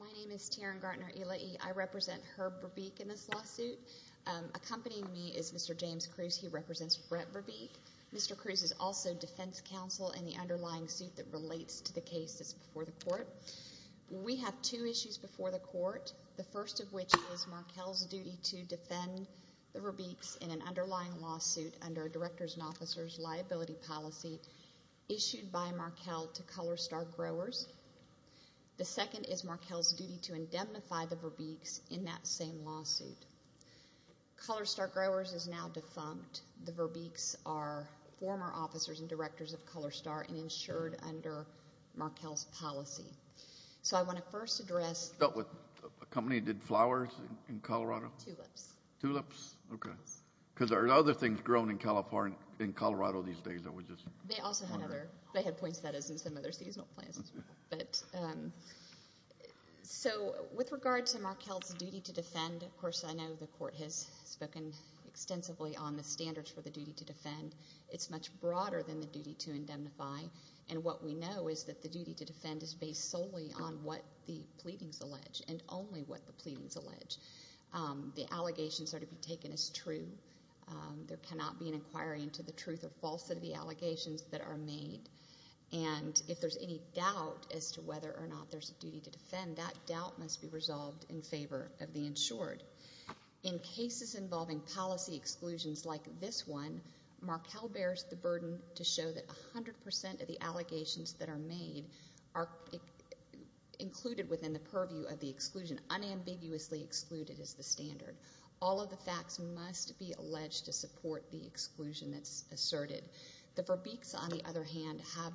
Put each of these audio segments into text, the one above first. My name is Taryn Gartner-Elaie. I represent Herb Verbeek in this lawsuit. Accompanying me is Mr. James Cruz. He represents Brett Verbeek. Mr. Cruz is also defense counsel in the underlying suit that relates to the case that's before the court. We have two issues before the court, the first of which is Markel's duty to defend the Verbeeks in an underlying lawsuit under a director's and officer's liability policy issued by Markel to Colorstar Growers. The second is Markel's duty to indemnify the Verbeeks in that same lawsuit. Colorstar Growers is now defunct. The Verbeeks are former officers and directors of Colorstar and insured under Markel's policy. So I want to first address- Because there are other things growing in Colorado these days that we just- They also have other- They have points of that as in some other seasonal plans as well. So with regard to Markel's duty to defend, of course, I know the court has spoken extensively on the standards for the duty to defend. It's much broader than the duty to indemnify. And what we know is that the duty to defend is based solely on what the pleadings allege and only what the pleadings allege. The allegations are to be taken as true. There cannot be an inquiry into the truth or falsehood of the allegations that are made. And if there's any doubt as to whether or not there's a duty to defend, that doubt must be resolved in favor of the insured. In cases involving policy exclusions like this one, Markel bears the burden to show that 100 percent of the allegations that are made are included within the purview of the exclusion, unambiguously excluded as the standard. All of the facts must be alleged to support the exclusion that's asserted. The Verbeek's, on the other hand, have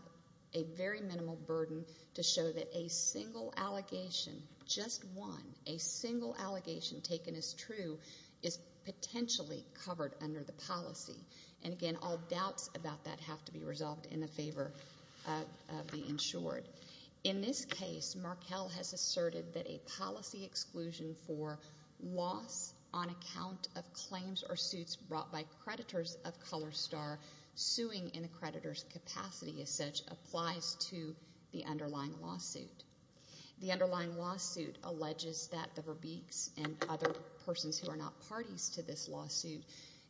a very minimal burden to show that a single allegation, just one, a single allegation taken as true is potentially covered under the policy. And again, all doubts about that have to be resolved in favor of the insured. In this case, Markel has asserted that a policy exclusion for loss on account of claims or suits brought by creditors of ColorStar, suing in a creditor's capacity as such, applies to the underlying lawsuit. The underlying lawsuit alleges that the Verbeek's and other persons who are not parties to this lawsuit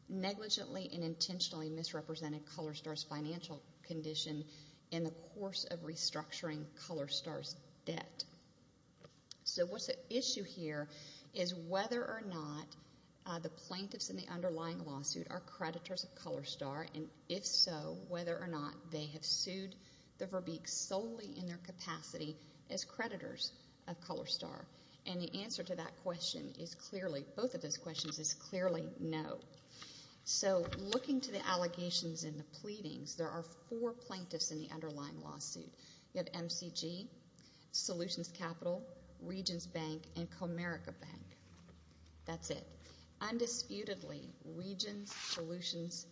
negligently and intentionally misrepresented ColorStar's financial condition in the course of restructuring ColorStar's debt. So what's the issue here is whether or not the plaintiffs in the underlying lawsuit are creditors of ColorStar, and if so, whether or not they have sued the Verbeek's solely in their capacity as creditors of ColorStar. And the answer to that question is clearly, both of those pleadings, there are four plaintiffs in the underlying lawsuit. You have MCG, Solutions Capital, Regions Bank, and Comerica Bank. That's it. Undisputedly, Regions, Solutions,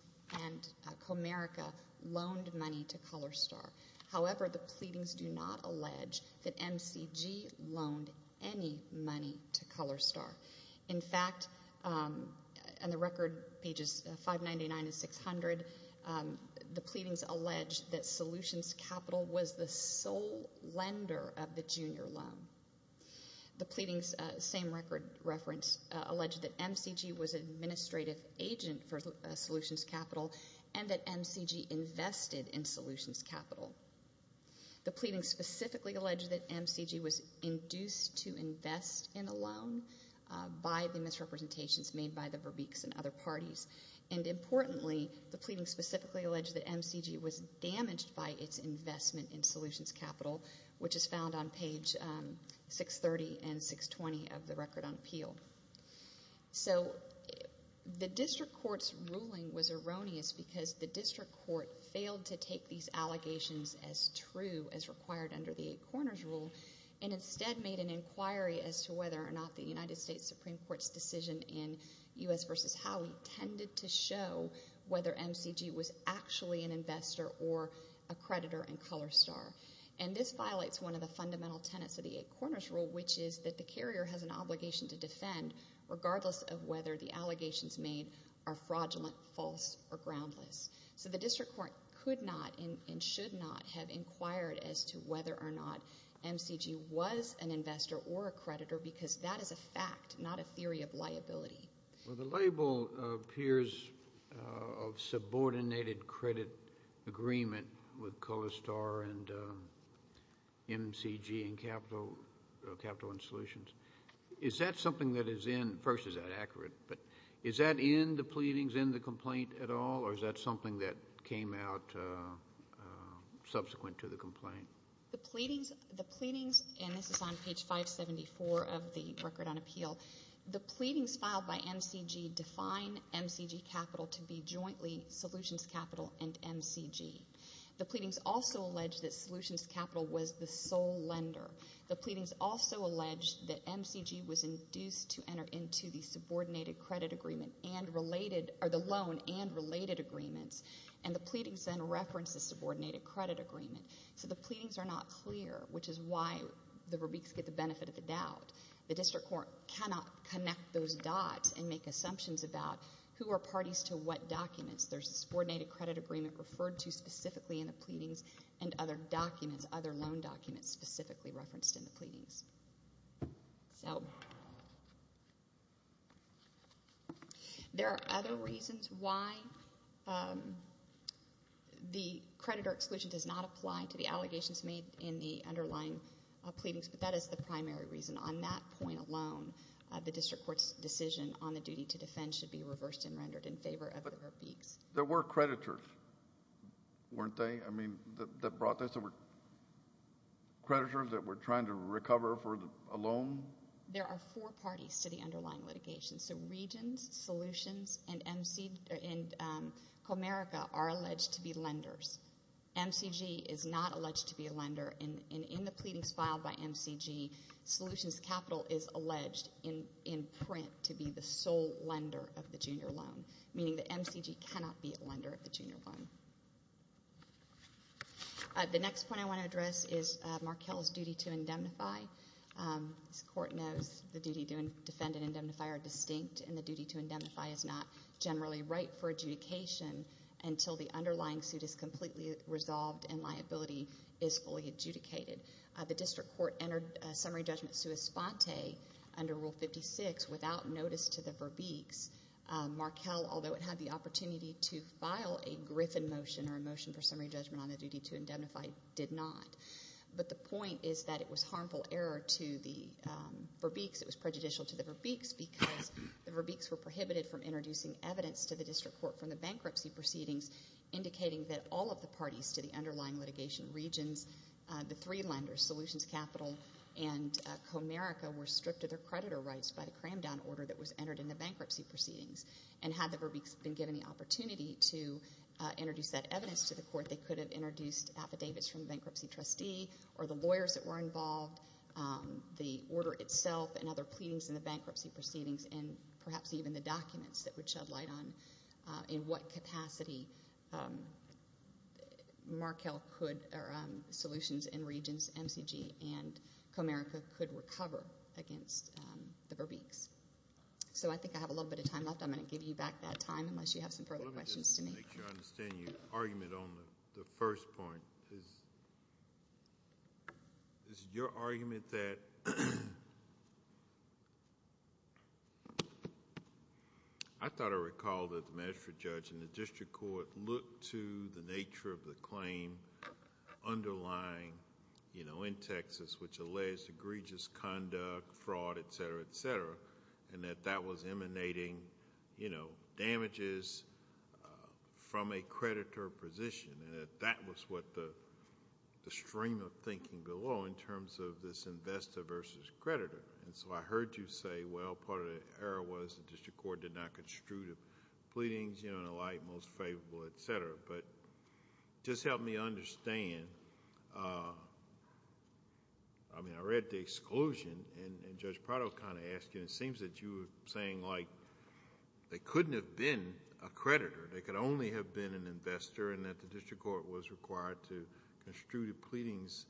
and Comerica loaned money to ColorStar. However, the pleadings do not allege that MCG loaned any money to ColorStar. In fact, on the record, pages 599 and 600, the plaintiffs have not the pleadings allege that Solutions Capital was the sole lender of the junior loan. The pleadings, same record reference, allege that MCG was an administrative agent for Solutions Capital and that MCG invested in Solutions Capital. The pleadings specifically allege that MCG was induced to invest in a loan by the misrepresentations made by the Verbeek's and other parties. And importantly, the pleadings specifically allege that MCG was damaged by its investment in Solutions Capital, which is found on page 630 and 620 of the record on appeal. So the district court's ruling was erroneous because the district court failed to take these allegations as true as required under the Eight Corners Rule and instead made an inquiry as to whether or not the United States Supreme Court's decision in U.S. v. Congress is how we tended to show whether MCG was actually an investor or a creditor in ColorStar. And this violates one of the fundamental tenets of the Eight Corners Rule, which is that the carrier has an obligation to defend regardless of whether the allegations made are fraudulent, false, or groundless. So the district court could not and should not have inquired as to whether or not MCG was an investor or a creditor because that is a fact, not a theory of liability. Well, the label appears of subordinated credit agreement with ColorStar and MCG and Capital and Solutions. Is that something that is in, first, is that accurate, but is that in the pleadings, in the complaint at all, or is that something that came out subsequent to the complaint? The pleadings, and this is on page 574 of the Record on Appeal, the pleadings filed by MCG define MCG Capital to be jointly Solutions Capital and MCG. The pleadings also allege that Solutions Capital was the sole lender. The pleadings also allege that MCG was induced to enter into the loan and related agreements, and the pleadings then reference the subordinated credit agreement. So the pleadings are not clear, which is why the rubriques get the benefit of the doubt. The district court cannot connect those dots and make assumptions about who are parties to what documents. There's a subordinated credit agreement referred to specifically in the pleadings and other documents, other loan documents specifically referenced in the pleadings. So, there are other reasons why the creditor exclusion does not apply to the allegations made in the underlying pleadings, but that is the primary reason. On that point alone, the district court's decision on the duty to defend should be reversed and rendered in favor of the rubriques. There were creditors, weren't they, I mean, that brought this? There were creditors that were trying to recover for a loan? There are four parties to the underlying litigation, so Regions, Solutions, and Comerica are alleged to be lenders. MCG is not alleged to be a lender, and in the pleadings filed by MCG, Solutions Capital is alleged in print to be the sole lender of the junior loan, meaning that MCG cannot be a lender of the junior loan. The next point I want to address is Markell's duty to indemnify. As the court knows, the duty to defend and indemnify are distinct, and the duty to indemnify is not generally right for adjudication until the underlying suit is completely resolved and liability is fully adjudicated. The district court entered summary judgment sua sponte under Rule 56 without notice to the verbiques. Markell, although it had the opportunity to file a Griffin motion or a motion for summary judgment on the duty to indemnify, did not. But the point is that it was harmful error to the verbiques. It was prejudicial to the verbiques because the verbiques were prohibited from introducing evidence to the district court from the bankruptcy proceedings, indicating that all of the parties to the underlying litigation, Regions, the three lenders, Solutions Capital, and Comerica, were stripped of their hand-down order that was entered in the bankruptcy proceedings. And had the verbiques been given the opportunity to introduce that evidence to the court, they could have introduced affidavits from the bankruptcy trustee or the lawyers that were involved, the order itself and other pleadings in the bankruptcy proceedings, and perhaps even the documents that would shed light on in what capacity Markell could, or Solutions and Regions, MCG, and Comerica could recover against the verbiques. So I think I have a little bit of time left. I'm going to give you back that time unless you have some further questions to make. Let me just make sure I understand your argument on the first point. Is your argument that... I thought I recalled that the magistrate judge and the district court looked to the plaintiff's conduct, fraud, et cetera, et cetera, and that that was emanating damages from a creditor position, and that that was what the stream of thinking below in terms of this investor versus creditor. So I heard you say, well, part of the error was the district court did not construe the pleadings, and the like, most favorable, et cetera. But just help me understand... I mean, I read the exclusion, and Judge Prado kind of asked you, and it seems that you were saying like they couldn't have been a creditor. They could only have been an investor, and that the district court was required to construe the pleadings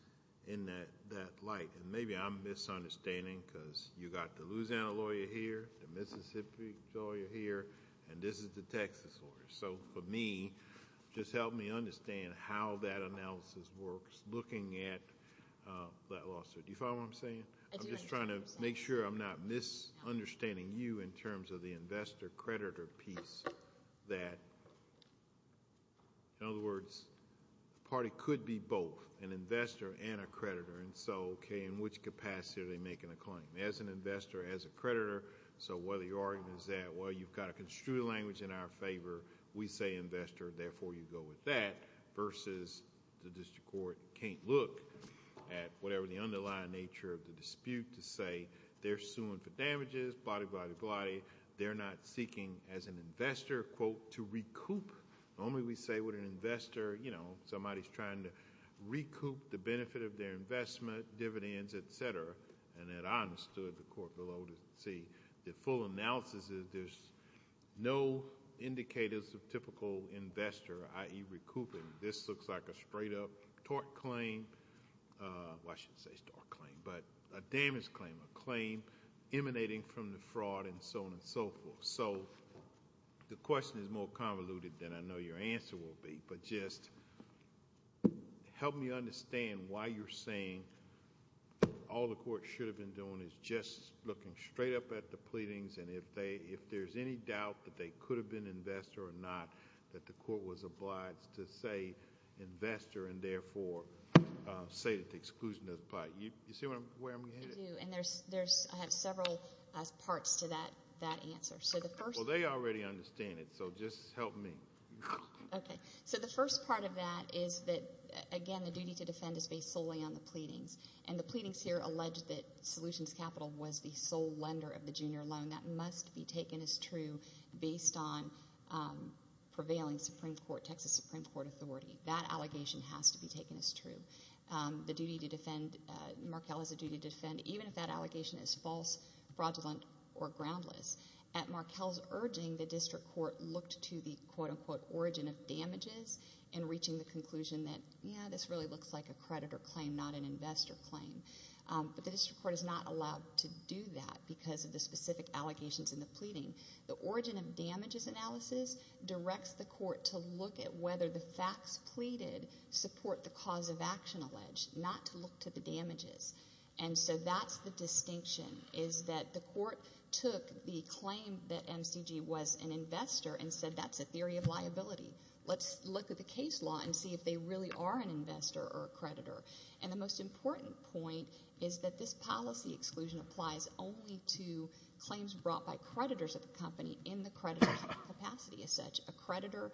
in that light. Maybe I'm misunderstanding because you got the Louisiana lawyer here, the Mississippi lawyer here, and this is the Texas lawyer. So for me, just help me understand how that analysis works, looking at that lawsuit. Do you follow what I'm saying? I do like what you're saying. I'm just trying to make sure I'm not misunderstanding you in terms of the investor-creditor piece that... in other words, the party could be both an investor and a creditor, and so okay, in which capacity are they making a claim? As an investor, as a creditor, so where the argument is that, well, you've got to construe the language in our favor. We say you're an investor, therefore you go with that, versus the district court can't look at whatever the underlying nature of the dispute to say they're suing for damages, blah-di-blah-di-blah-di. They're not seeking, as an investor, quote, to recoup. Normally we say with an investor, you know, somebody's trying to recoup the benefit of their investment, dividends, etc., and that I understood the court below to see the full analysis is there's no indicators of typical investor, i.e., recouping. This looks like a straight-up tort claim... well, I shouldn't say tort claim, but a damage claim, a claim emanating from the fraud, and so on and so forth. The question is more convoluted than I know your answer will be, but just help me understand why you're saying all the court should have been doing is just looking straight up at the pleadings, and if there's any doubt that they could have been an investor or not, that the court was obliged to say investor, and therefore say that the exclusion doesn't apply. You see where I'm headed? I do, and there's... I have several parts to that answer. So the first... Well, they already understand it, so just help me. Okay. So the first part of that is that, again, the duty to defend is based solely on the pleadings, and the pleadings here allege that Solutions Capital was the sole lender of the prevailing Supreme Court... Texas Supreme Court authority. That allegation has to be taken as true. The duty to defend... Markell has a duty to defend even if that allegation is false, fraudulent, or groundless. At Markell's urging, the district court looked to the quote-unquote origin of damages in reaching the conclusion that, yeah, this really looks like a creditor claim, not an investor claim. But the district court is not allowed to do that because of the specific allegations in the pleading. The origin of damages analysis directs the court to look at whether the facts pleaded support the cause of action alleged, not to look to the damages. And so that's the distinction, is that the court took the claim that MCG was an investor and said that's a theory of liability. Let's look at the case law and see if they really are an investor or a creditor. And the most important point is that this policy exclusion applies only to claims brought by creditors of the company in the creditor capacity as such. A creditor,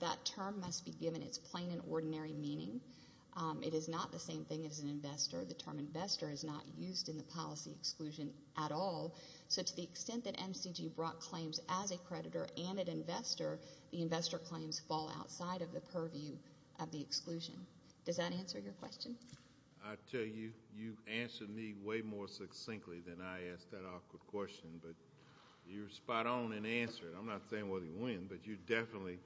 that term must be given its plain and ordinary meaning. It is not the same thing as an investor. The term investor is not used in the policy exclusion at all. So to the extent that MCG brought claims as a creditor and an investor, the investor claims fall outside of the purview of the exclusion. Does that answer your question? I tell you, you answered me way more succinctly than I asked that awkward question, but you were spot on in answering. I'm not saying whether you win, but you definitely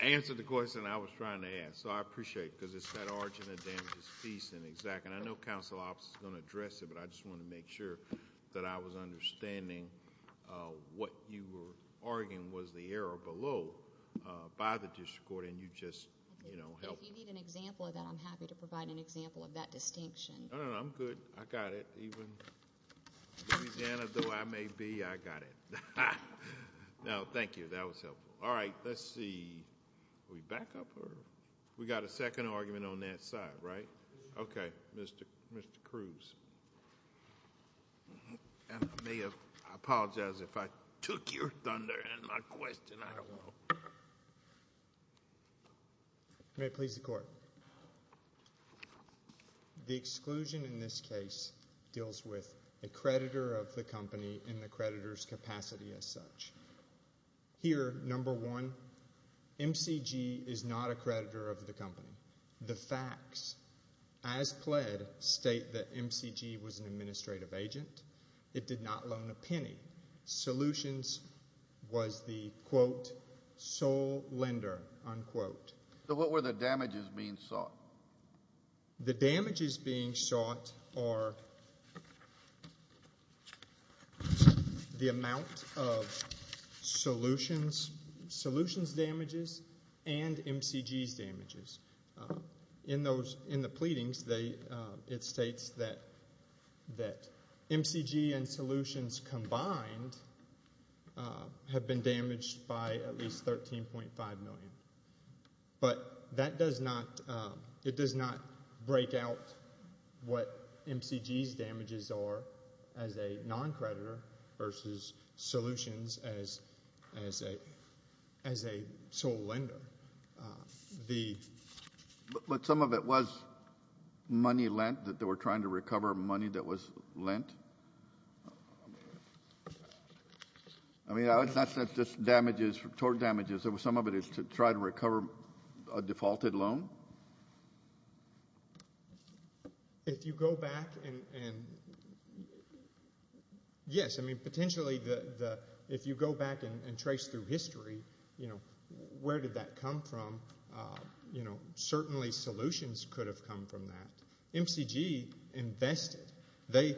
answered the question I was trying to ask. So I appreciate it, because it's that origin of damages piece in exact... and I know counsel's office is going to address it, but I just wanted to make sure that I was understanding what you were arguing was the error below by the district court, and you just helped me. If you need an example of that, I'm happy to provide an example of that distinction. No, no, no. I'm good. I got it. Even in Louisiana, though I may be, I got it. No, thank you. That was helpful. All right. Let's see. Are we back up, or... We got a second argument on that side, right? Okay. Mr. Cruz. I apologize if I took your thunder in my question. I don't The exclusion in this case deals with a creditor of the company and the creditor's capacity as such. Here, number one, MCG is not a creditor of the company. The facts, as pled, state that MCG was an administrative agent. It did not loan a penny. Solutions was the, quote, sole lender, unquote. So what were the damages being sought? The damages being sought are the amount of Solutions' damages and MCG's damages. In the pleadings, it states that MCG and Solutions combined have been damaged by at least $13.5 million. But that does not, it does not break out what MCG's damages are as a non-creditor versus Solutions as a sole lender. But some of it was money lent, that they were trying to recover money that was lent? I mean, that's not just damages, total damages. Some of it is to try to recover a defaulted loan? If you go back and... Yes, I mean, potentially, if you go back and trace through history, you know, where did that come from? You know, certainly Solutions could have come from that. MCG invested. They,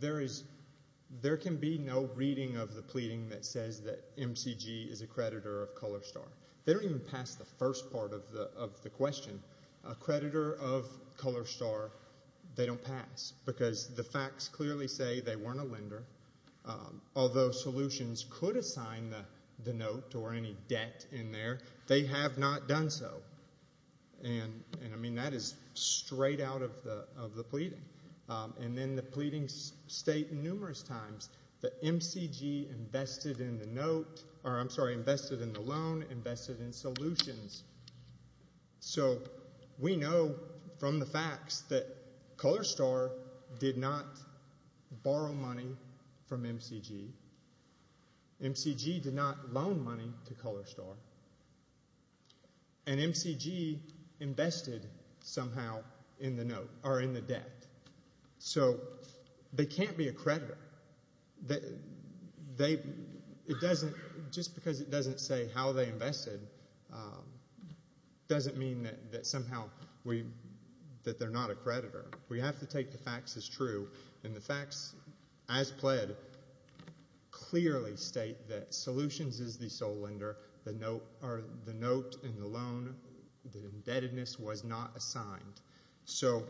there is, there can be no reading of the pleading that says that MCG is a creditor of Colorstar. They don't even pass the first part of the question. A creditor of Colorstar, they don't pass because the facts clearly say they weren't a lender, although Solutions could assign the note or any debt in there, they have not done so. And I mean, that is straight out of the pleading. And then the pleadings state numerous times that MCG invested in the note, or I'm sorry, invested in the loan, invested in Solutions. So we know from the facts that MCG did not loan money to Colorstar, and MCG invested somehow in the note, or in the debt. So they can't be a creditor. They, it doesn't, just because it doesn't say how they invested doesn't mean that somehow we, that they're not a creditor. We have to take the facts as true, and the facts as pled clearly state that Solutions is the sole lender. The note, or the note in the loan, the indebtedness was not assigned. So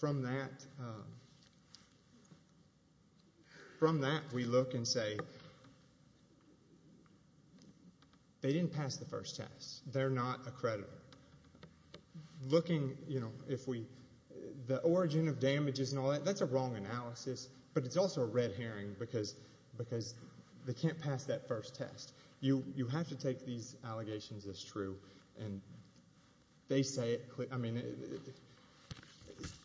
from that, from that we look and say, they didn't pass the first test. They're not a creditor. Looking, you know, if we, the origin of the analysis, but it's also a red herring because they can't pass that first test. You have to take these allegations as true. And they say it, I mean,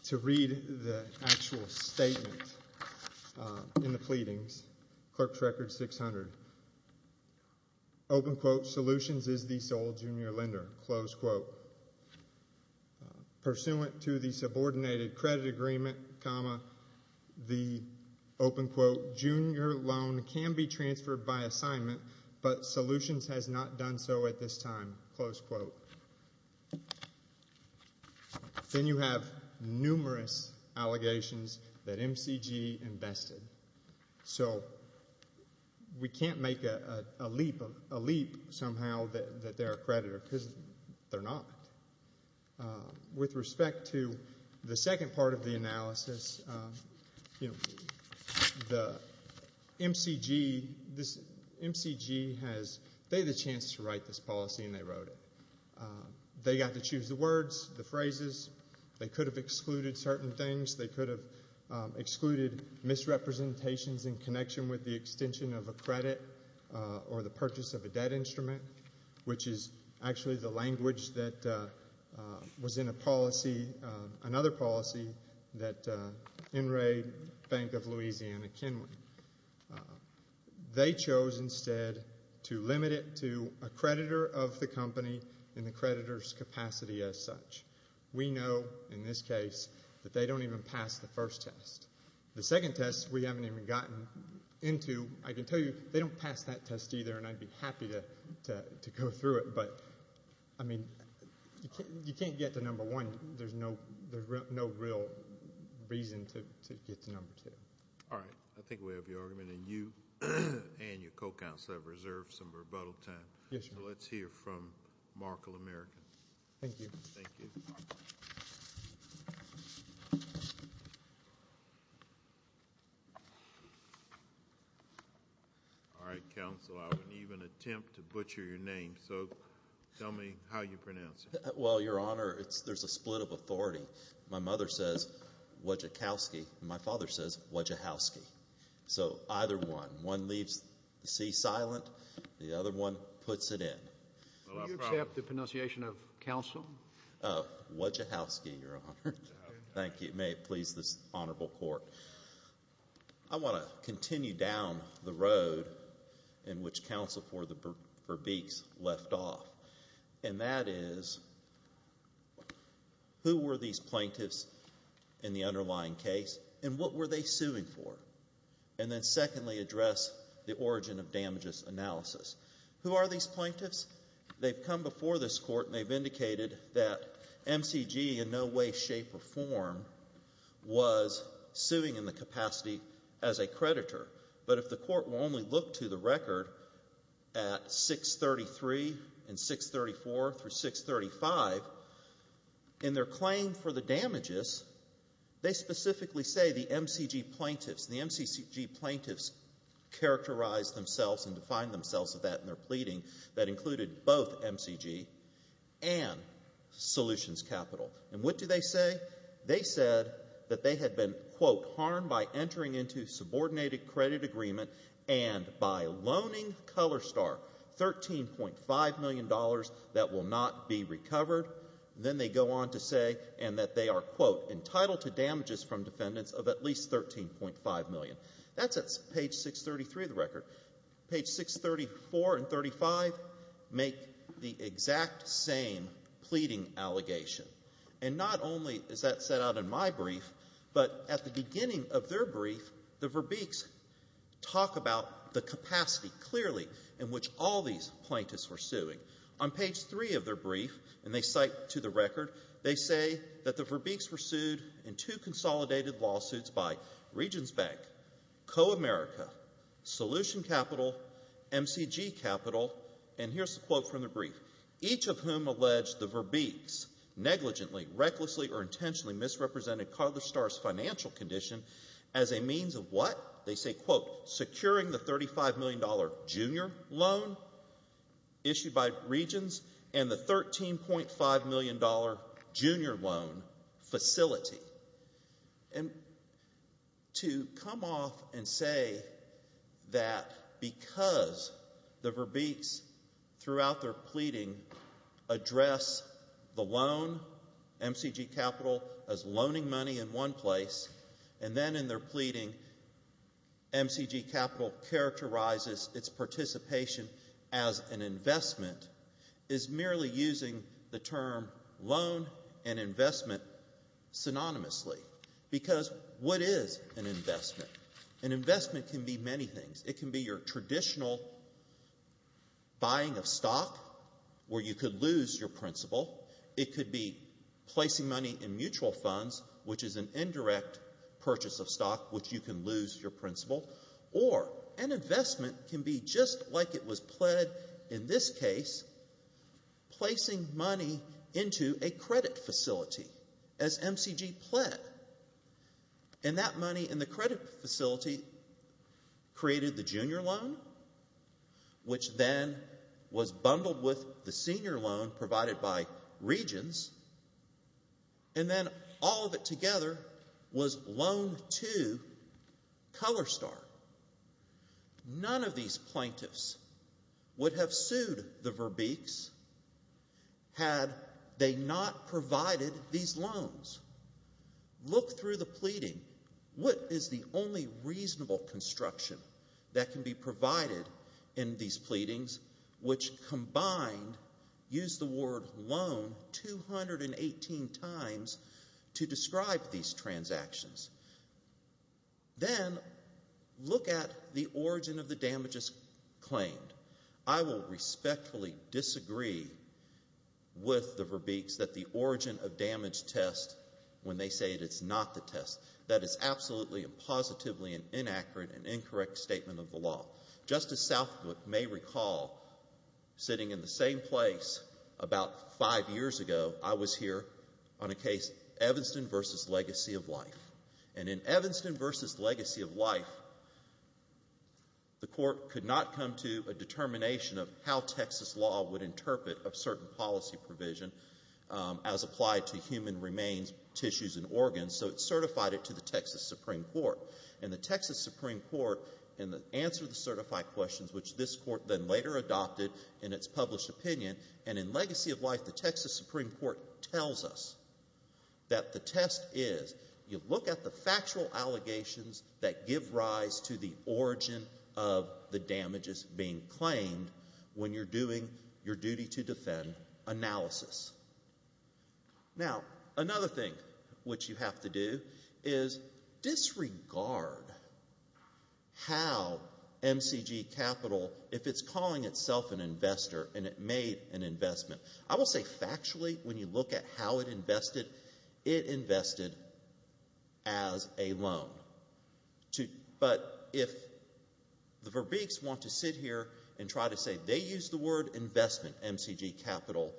to read the actual statement in the pleadings, Clerk's Record 600, open quote, Solutions is the sole junior lender, close quote. Pursuant to the subordinated credit agreement, comma, the open quote, junior loan can be transferred by assignment, but Solutions has not done so at this time, close quote. Then you have numerous allegations that MCG invested. So we can't make a leap, a leap somehow that they're a creditor because they're not. With respect to the second part of the analysis, you know, the MCG, this MCG has, they had a chance to write this policy and they wrote it. They got to choose the words, the phrases. They could have excluded certain things. They could have excluded misrepresentations in connection with the extension of a credit or the purchase of a debt instrument, which is actually the language that was in a policy, another policy, that En-RAID, Bank of Louisiana, Kenwood. They chose instead to limit it to a creditor of the company and the creditor's capacity as such. We know, in this case, that they don't even pass the first test. The second test, we haven't even gotten into. I can tell you, they don't pass that test either, and I'd be happy to go through it, but, I mean, you can't get to number one. There's no real reason to get to number two. All right. I think we have your argument, and you and your co-counsel have reserved some rebuttal time. Yes, sir. Let's hear from Markle American. Thank you. All right, counsel, I wouldn't even attempt to butcher your name, so tell me how you pronounce it. Well, your honor, there's a split of authority. My mother says Wajahowski, and my father says Wajahowski. So, either one. One leaves the sea silent, the other one puts it in. Will you accept the pronunciation of counsel? Wajahowski, your honor. Thank you. May it please this honorable court. I want to continue down the road in which counsel for Beeks left off, and that is, who were these plaintiffs in the underlying case, and what were they suing for, and then secondly address the origin of damages analysis. Who are these plaintiffs? They've come before this court, and they've indicated that MCG in no way, shape, or form was suing in the capacity as a creditor, but if the court will only look to the record at 633 and 634 through 635, in their claim for the damages, they specifically say the MCG plaintiffs, the MCG plaintiffs characterized themselves and defined themselves in that in their pleading that included both MCG and solutions capital. And what do they say? They said that they had been, quote, by entering into subordinated credit agreement and by loaning ColorStar $13.5 million that will not be recovered. Then they go on to say, and that they are, quote, entitled to damages from defendants of at least $13.5 million. That's at page 633 of the record. Page 634 and 635 make the exact same pleading allegation. And not only is that set out in my brief, but at the beginning of their brief, the Verbeeks talk about the capacity clearly in which all these plaintiffs were suing. On page 3 of their brief, and they cite to the record, they say that the Verbeeks were sued in two consolidated lawsuits by Regions Bank, CoAmerica, Solution Capital, MCG Capital, and here's a quote from the brief. Each of whom alleged the Verbeeks negligently, recklessly, or intentionally misrepresented ColorStar's financial condition as a means of what? They say, quote, securing the $35 million junior loan issued by Regions and the $13.5 million junior loan facility. And to come off and say that because the Verbeeks, throughout their pleading, address the loan, MCG Capital, as loaning money in one place, and then in their pleading MCG Capital characterizes its participation as an investment is merely using the term loan and investment synonymously. Because what is an investment? An investment can be many things. It can be your traditional buying of stock where you could lose your principal. It could be placing money in mutual funds, which is an indirect purchase of stock, which you can lose your principal. Or an investment can be just like it was pled in this case, placing money into a credit facility as MCG pled. And that money in the credit facility created the junior loan, which then was bundled with the senior loan provided by Regions, and then all of it together was loan to Colorstar. None of these plaintiffs would have sued the Verbeeks had they not provided these loans. Look through the pleading. What is the only reasonable construction that can be provided in these pleadings, which combined use the word loan 218 times to describe these transactions? Then look at the origin of the damages claimed. I will respectfully disagree with the Verbeeks that the origin of damage test, when they say it is not the test, that is absolutely and positively an inaccurate and incorrect statement of the law. Just as Southwood may recall, sitting in the same place about five years ago, I was here on a case, Evanston v. Legacy of Life. And in Evanston v. Legacy of Life, the court could not come to a determination of how Texas law would interpret a certain policy provision as applied to human remains, tissues, and organs, so it certified it to the Texas Supreme Court. And the Texas Supreme Court answered the certified questions, which this court then later adopted in its published opinion. And in Legacy of Life, the Texas Supreme Court tells us that the test is, you look at the factual allegations that give rise to the origin of the damages being claimed when you're doing your duty to defend analysis. Now, another thing which you have to do is disregard how MCG Capital, if it's calling itself an investor and it made an investment, I will say factually when you look at how it invested, it invested as a loan. But if the Verbeeks want to sit here and try to say they used the word investment, MCG Capital,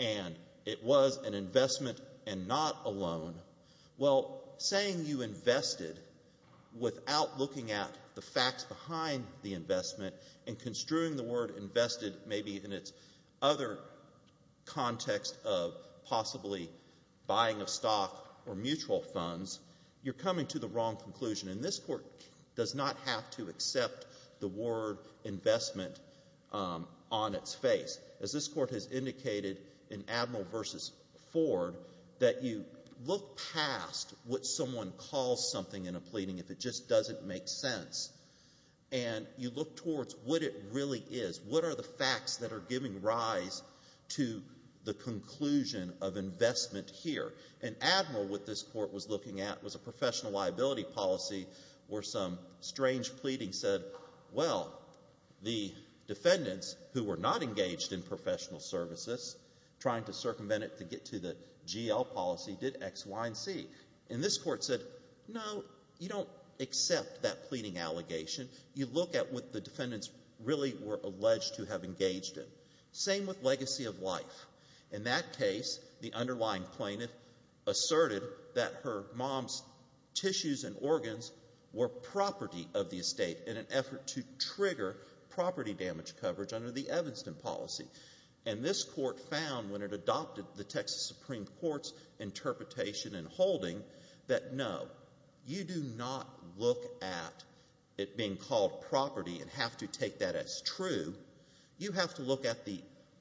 and it was an investment and not a loan, well, saying you invested without looking at the facts behind the investment and construing the word invested maybe in its other context of possibly buying of stock or mutual funds, you're coming to the wrong conclusion. And this court does not have to accept the word investment on its face. As this court has indicated in Admiral v. Ford, that you look past what someone calls something in a pleading if it just doesn't make sense, and you look towards what it really is, what are the facts that are giving rise to the conclusion of investment here. In Admiral, what this court was looking at was a professional liability policy where some strange pleading said, well, the defendants who were not engaged in professional services, trying to circumvent it to get to the GL policy, did X, Y, and Z. And this court said, no, you don't accept that pleading allegation. You look at what the defendants really were alleged to have engaged in. Same with legacy of life. In that case, the underlying plaintiff asserted that her mom's tissues and organs were property of the estate in an effort to trigger property damage coverage under the Evanston policy. And this court found when it adopted the Texas Supreme Court's interpretation and holding that, no, you do not look at it being called property and have to take that as true. You have to look at the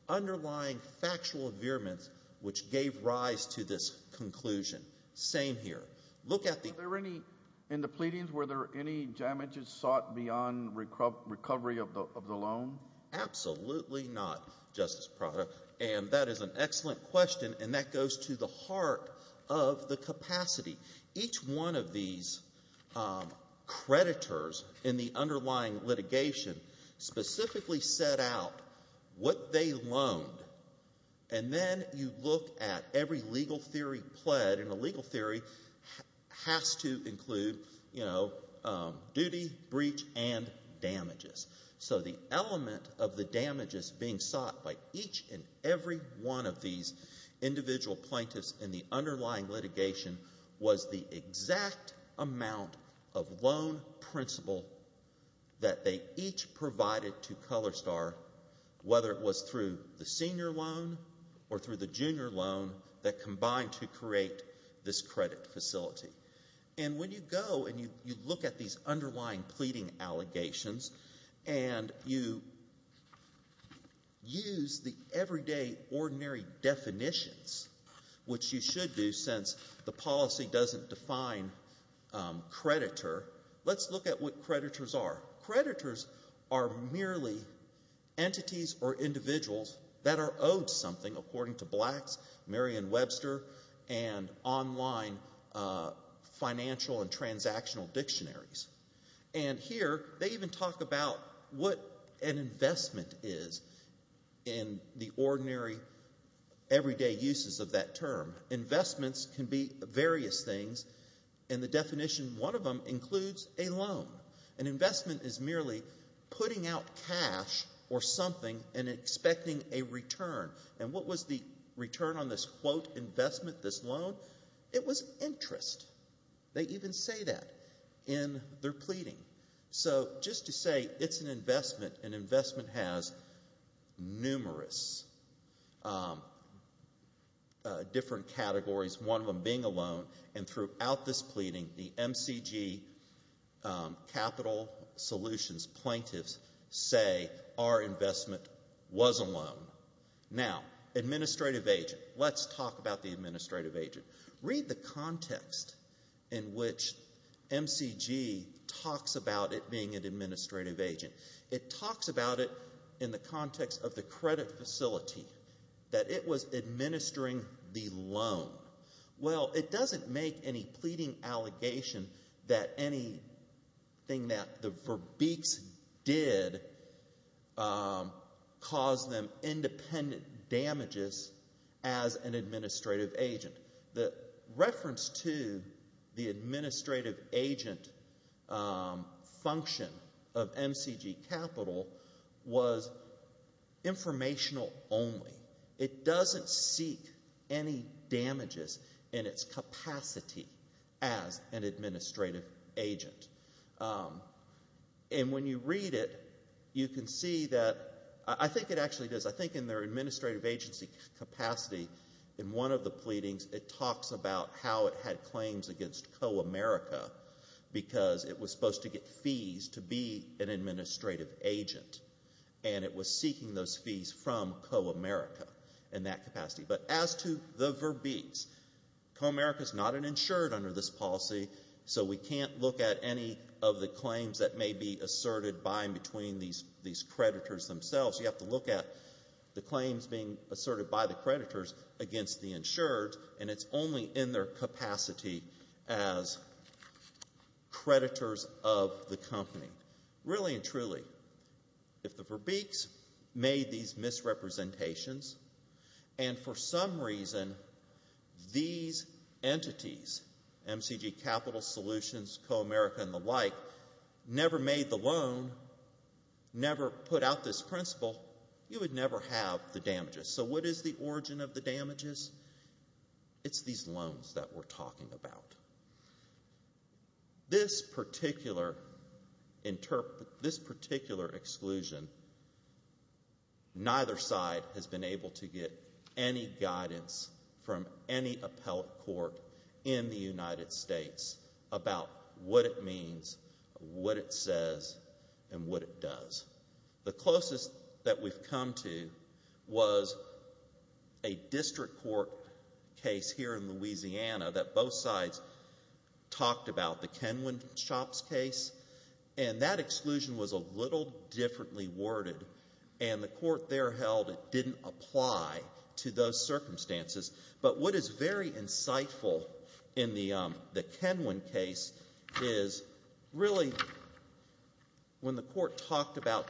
underlying factual vehemence which gave rise to this conclusion. Same here. Look at the— Were there any—in the pleadings, were there any damages sought beyond recovery of the loan? Absolutely not, Justice Prado, and that is an excellent question, and that goes to the heart of the capacity. Each one of these creditors in the underlying litigation specifically set out what they loaned, and then you look at every legal theory pled, and a legal theory has to include, you know, duty, breach, and damages. So the element of the damages being sought by each and every one of these individual plaintiffs in the underlying litigation was the exact amount of loan principal that they each provided to ColorStar, whether it was through the senior loan or through the junior loan, that combined to create this credit facility. And when you go and you look at these underlying pleading allegations and you use the everyday ordinary definitions, which you should do since the policy doesn't define creditor, let's look at what creditors are. Creditors are merely entities or individuals that are owed something, according to Blacks, Merriam-Webster, and online financial and transactional dictionaries. And here they even talk about what an investment is in the ordinary everyday uses of that term. Investments can be various things, and the definition of one of them includes a loan. An investment is merely putting out cash or something and expecting a return. And what was the return on this, quote, investment, this loan? It was interest. They even say that in their pleading. So just to say it's an investment, an investment has numerous different categories, one of them being a loan, and throughout this pleading, the MCG capital solutions plaintiffs say our investment was a loan. Now, administrative agent. Let's talk about the administrative agent. Read the context in which MCG talks about it being an administrative agent. It talks about it in the context of the credit facility, that it was administering the loan. Well, it doesn't make any pleading allegation that anything that the Verbeeks did caused them independent damages as an administrative agent. The reference to the administrative agent function of MCG capital was informational only. It doesn't seek any damages in its capacity as an administrative agent. And when you read it, you can see that, I think it actually does, I think in their administrative agency capacity, in one of the pleadings, it talks about how it had claims against CoAmerica because it was supposed to get fees to be an administrative agent, and it was seeking those fees from CoAmerica in that capacity. But as to the Verbeeks, CoAmerica is not an insured under this policy, so we can't look at any of the claims that may be asserted by and between these creditors themselves. You have to look at the claims being asserted by the creditors against the insured, and it's only in their capacity as creditors of the company. Really and truly, if the Verbeeks made these misrepresentations and for some reason these entities, MCG Capital Solutions, CoAmerica, and the like, never made the loan, never put out this principle, you would never have the damages. So what is the origin of the damages? It's these loans that we're talking about. This particular exclusion, neither side has been able to get any guidance from any appellate court in the United States about what it means, what it says, and what it does. The closest that we've come to was a district court case here in Louisiana that both sides talked about, the Kenwin Shops case, and that exclusion was a little differently worded, and the court there held it didn't apply to those circumstances. But what is very insightful in the Kenwin case is really when the court talked about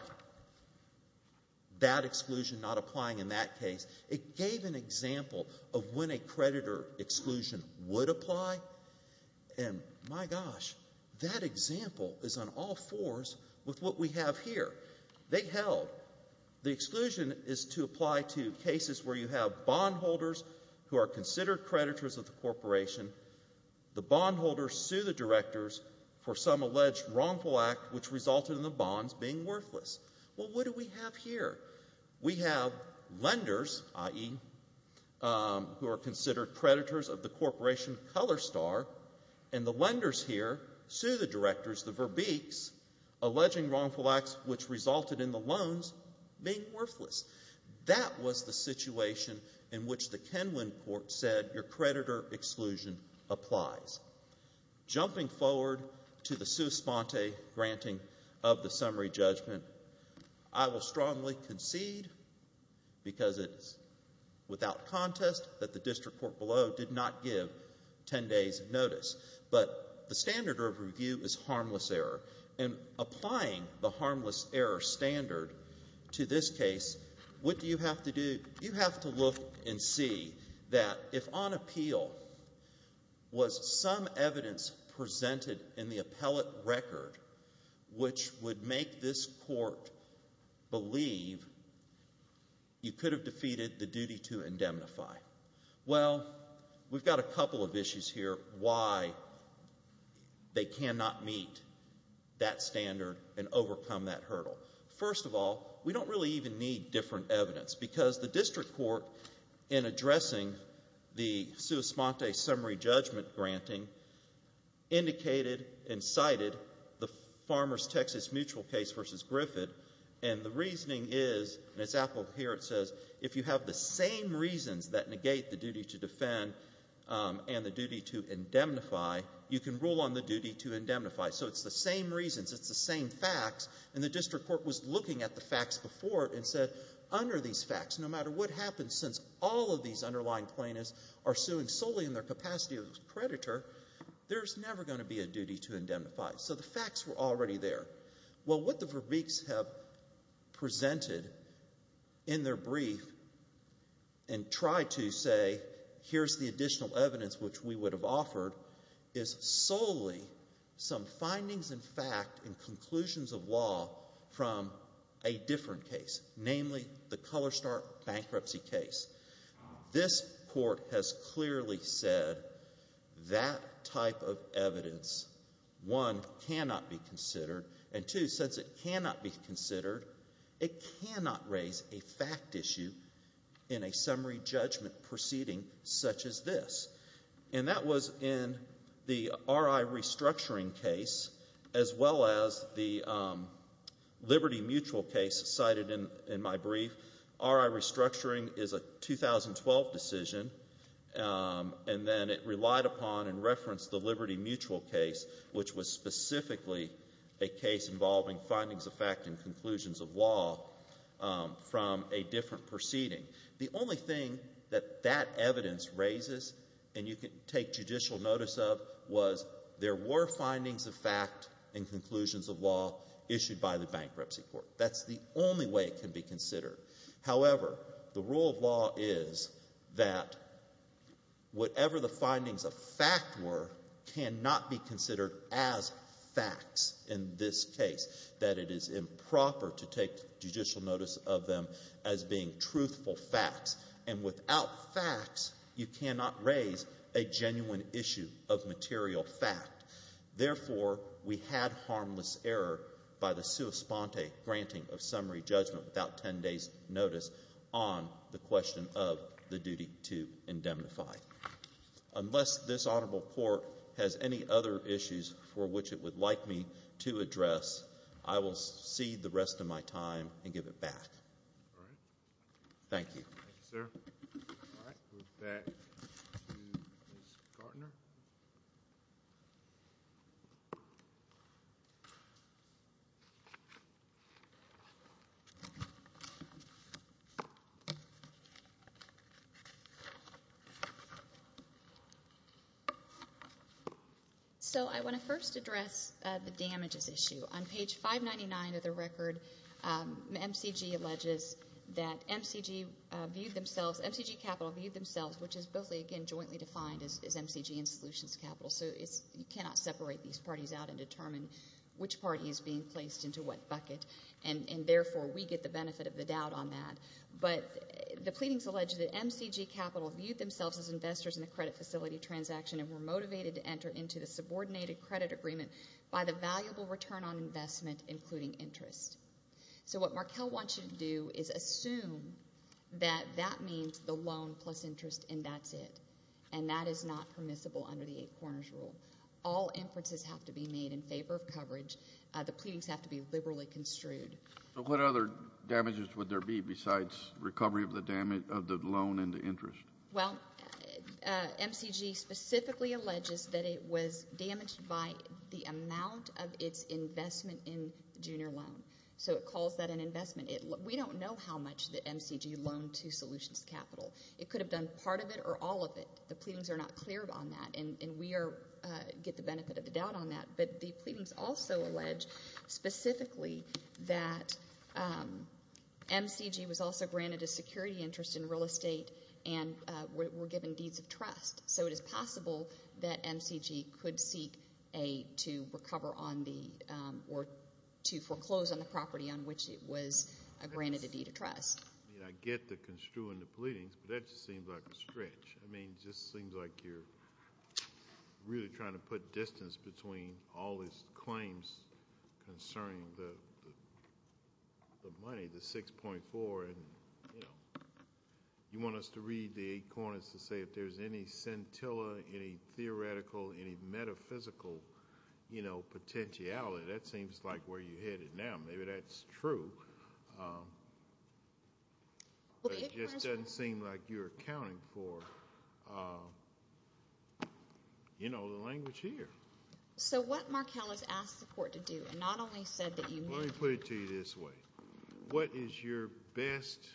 that exclusion not applying in that case, it gave an example of when a creditor exclusion would apply, and, my gosh, that example is on all fours with what we have here. They held the exclusion is to apply to cases where you have bondholders who are considered creditors of the corporation, the bondholders sue the directors for some alleged wrongful act which resulted in the bonds being worthless. Well, what do we have here? We have lenders, i.e., who are considered creditors of the corporation Colorstar, and the lenders here sue the directors, the verbiques, alleging wrongful acts which resulted in the loans being worthless. That was the situation in which the Kenwin court said that your creditor exclusion applies. Jumping forward to the sua sponte granting of the summary judgment, I will strongly concede, because it is without contest that the district court below did not give 10 days of notice, but the standard of review is harmless error, and applying the harmless error standard to this case, what do you have to do? You have to look and see that if on appeal was some evidence presented in the appellate record which would make this court believe you could have defeated the duty to indemnify. Well, we've got a couple of issues here why they cannot meet that standard and overcome that hurdle. First of all, we don't really even need different evidence because the district court, in addressing the sua sponte summary judgment granting, indicated and cited the Farmers Texas Mutual case v. Griffith, and the reasoning is, and it's applicable here, it says if you have the same reasons that negate the duty to defend and the duty to indemnify, you can rule on the duty to indemnify. So it's the same reasons, it's the same facts, and the district court was looking at the facts before it and said under these facts, no matter what happens, since all of these underlying plaintiffs are suing solely in their capacity as a predator, there's never going to be a duty to indemnify. So the facts were already there. Well, what the Verbeeks have presented in their brief and tried to say here's the additional evidence which we would have offered is solely some findings in fact and conclusions of law from a different case, namely the Colorstar bankruptcy case. This court has clearly said that type of evidence, one, cannot be considered, and two, since it cannot be considered, it cannot raise a fact issue in a summary judgment proceeding such as this. And that was in the RI restructuring case as well as the Liberty Mutual case cited in my brief. RI restructuring is a 2012 decision, and then it relied upon and referenced the Liberty Mutual case, which was specifically a case involving findings of fact and conclusions of law from a different proceeding. The only thing that that evidence raises and you can take judicial notice of was there were findings of fact and conclusions of law issued by the bankruptcy court. That's the only way it can be considered. However, the rule of law is that whatever the findings of fact were cannot be considered as facts in this case, that it is improper to take judicial notice of them as being truthful facts. And without facts, you cannot raise a genuine issue of material fact. Therefore, we had harmless error by the sua sponte granting of summary judgment without 10 days' notice on the question of the duty to indemnify. Unless this honorable court has any other issues for which it would like me to address, I will cede the rest of my time and give it back. Thank you. Thank you, sir. So I want to first address the damages issue. On page 599 of the record, MCG alleges that MCG viewed themselves, MCG Capital viewed themselves, which is both, again, jointly defined as MCG and Solutions Capital, so you cannot separate these parties out and determine which party is being placed into what bucket, and therefore we get the benefit of the doubt on that. But the pleadings allege that MCG Capital viewed themselves as investors in the credit facility transaction and were motivated to enter into the subordinated credit agreement by the valuable return on investment, including interest. So what Markell wants you to do is assume that that means the loan plus interest and that's it, and that is not permissible under the Eight Corners Rule. All inferences have to be made in favor of coverage. The pleadings have to be liberally construed. So what other damages would there be besides recovery of the loan and the interest? Well, MCG specifically alleges that it was damaged by the amount of its investment in the junior loan. So it calls that an investment. We don't know how much that MCG loaned to Solutions Capital. It could have done part of it or all of it. The pleadings are not clear on that, and we get the benefit of the doubt on that. But the pleadings also allege specifically that MCG was also granted a security interest in real estate and were given deeds of trust. So it is possible that MCG could seek to recover on the or to foreclose on the property on which it was granted a deed of trust. I mean, I get the construing the pleadings, but that just seems like a stretch. I mean, it just seems like you're really trying to put distance between all these claims concerning the money, the 6.4, and you want us to read the Eight Corners to say if there's any scintilla, any theoretical, any metaphysical potentiality. That seems like where you're headed now. Maybe that's true. It just doesn't seem like you're accounting for the language here. So what Markell has asked the court to do, and not only said that you need— Let me put it to you this way. What is your best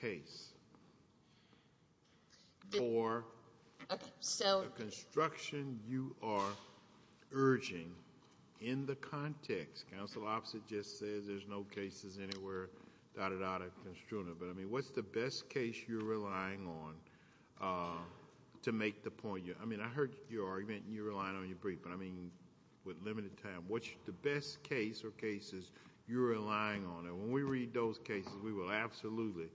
case for the construction you are urging in the context? Counsel opposite just says there's no cases anywhere, dot, dot, dot, construing it. But, I mean, what's the best case you're relying on to make the point? I mean, I heard your argument and you're relying on your brief, but, I mean, with limited time, what's the best case or cases you're relying on? And when we read those cases, we will absolutely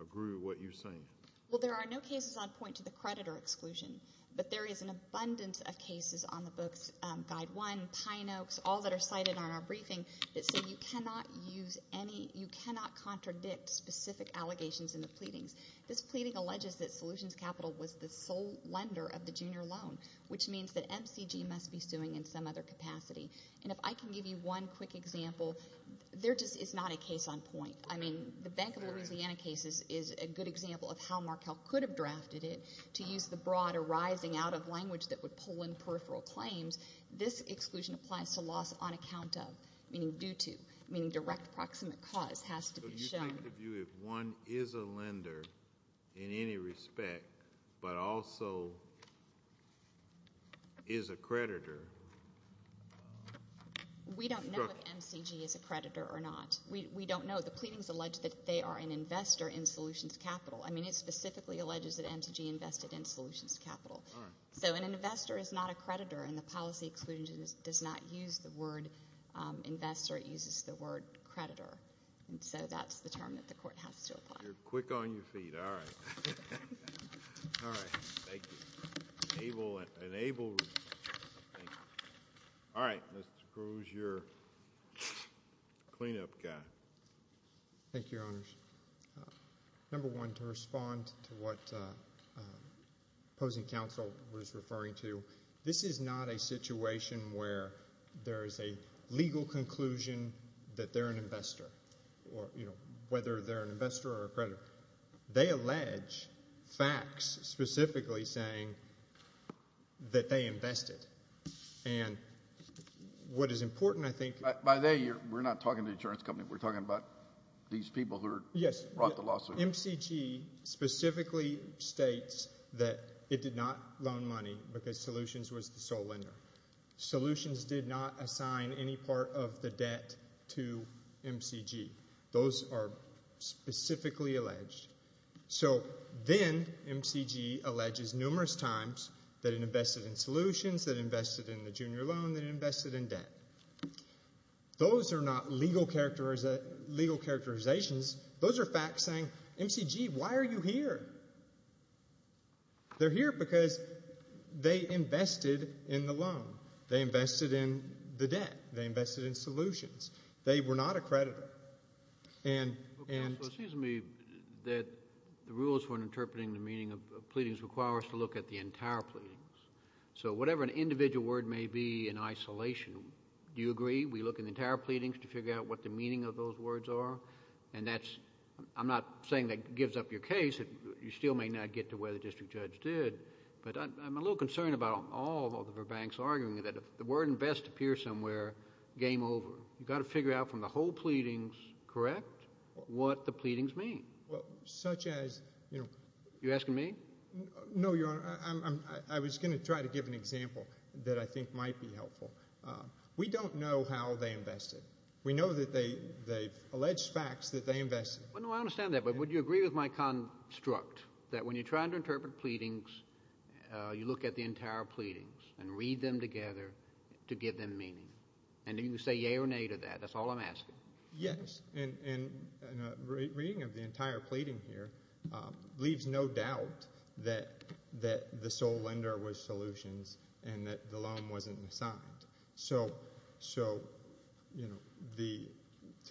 agree with what you're saying. Well, there are no cases on point to the creditor exclusion, but there is an abundance of cases on the books, Guide 1, Pine Oaks, all that are cited on our briefing that say you cannot use any— you cannot contradict specific allegations in the pleadings. This pleading alleges that Solutions Capital was the sole lender of the junior loan, which means that MCG must be suing in some other capacity. And if I can give you one quick example, there just is not a case on point. I mean, the Bank of Louisiana case is a good example of how Markell could have drafted it to use the broad arising out of language that would pull in peripheral claims. This exclusion applies to loss on account of, meaning due to, meaning direct proximate cause has to be shown. I'm trying to view if one is a lender in any respect but also is a creditor. We don't know if MCG is a creditor or not. We don't know. The pleadings allege that they are an investor in Solutions Capital. I mean, it specifically alleges that MCG invested in Solutions Capital. So an investor is not a creditor, and the policy exclusion does not use the word investor. It uses the word creditor. And so that's the term that the court has to apply. You're quick on your feet. All right. All right. Thank you. All right, Mr. Cruz, you're the cleanup guy. Thank you, Your Honors. Number one, to respond to what opposing counsel was referring to, this is not a situation where there is a legal conclusion that they're an investor or, you know, whether they're an investor or a creditor. They allege facts specifically saying that they invested. And what is important, I think— By they, we're not talking to the insurance company. We're talking about these people who brought the lawsuit. MCG specifically states that it did not loan money because Solutions was the sole lender. Solutions did not assign any part of the debt to MCG. Those are specifically alleged. So then MCG alleges numerous times that it invested in Solutions, that it invested in the junior loan, that it invested in debt. Those are not legal characterizations. Those are facts saying, MCG, why are you here? They're here because they invested in the loan. They invested in the debt. They invested in Solutions. They were not a creditor. Counsel, it seems to me that the rules for interpreting the meaning of pleadings require us to look at the entire pleadings. So whatever an individual word may be in isolation, do you agree we look in the entire pleadings to figure out what the meaning of those words are? And that's—I'm not saying that gives up your case. You still may not get to where the district judge did. But I'm a little concerned about all of the Verbanks arguing that if the word invest appears somewhere, game over. You've got to figure out from the whole pleadings, correct, what the pleadings mean. Well, such as— You're asking me? No, Your Honor. I was going to try to give an example that I think might be helpful. We don't know how they invested. We know that they've alleged facts that they invested. Well, no, I understand that. But would you agree with my construct that when you're trying to interpret pleadings, you look at the entire pleadings and read them together to give them meaning? And do you say yea or nay to that? That's all I'm asking. Yes. And reading of the entire pleading here leaves no doubt that the sole lender was Solutions and that the loan wasn't assigned. So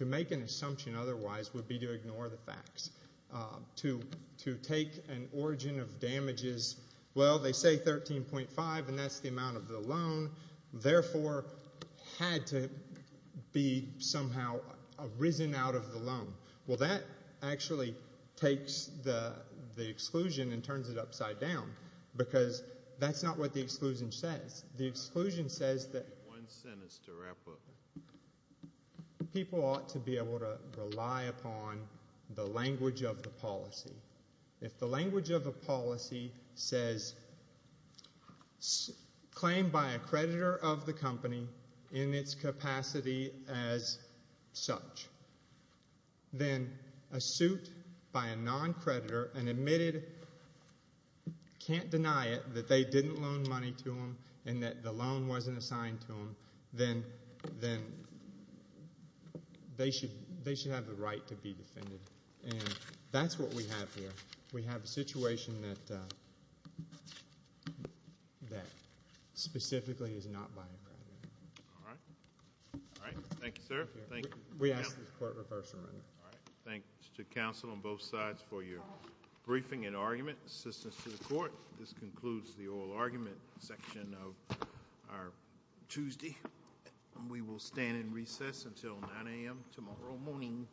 to make an assumption otherwise would be to ignore the facts. To take an origin of damages—well, they say 13.5, and that's the amount of the loan. Therefore, had to be somehow risen out of the loan. Well, that actually takes the exclusion and turns it upside down because that's not what the exclusion says. The exclusion says that people ought to be able to rely upon the language of the policy. If the language of the policy says claim by a creditor of the company in its capacity as such, then a suit by a non-creditor and admitted can't deny it that they didn't loan money to them and that the loan wasn't assigned to them, then they should have the right to be defended. And that's what we have here. We have a situation that specifically is not by a creditor. All right. All right. Thank you, sir. Thank you. We ask that the Court reverse the amendment. All right. Thanks to counsel on both sides for your briefing and argument. Assistance to the Court. This concludes the oral argument section of our Tuesday, and we will stand in recess until 9 a.m. tomorrow morning. Thank you.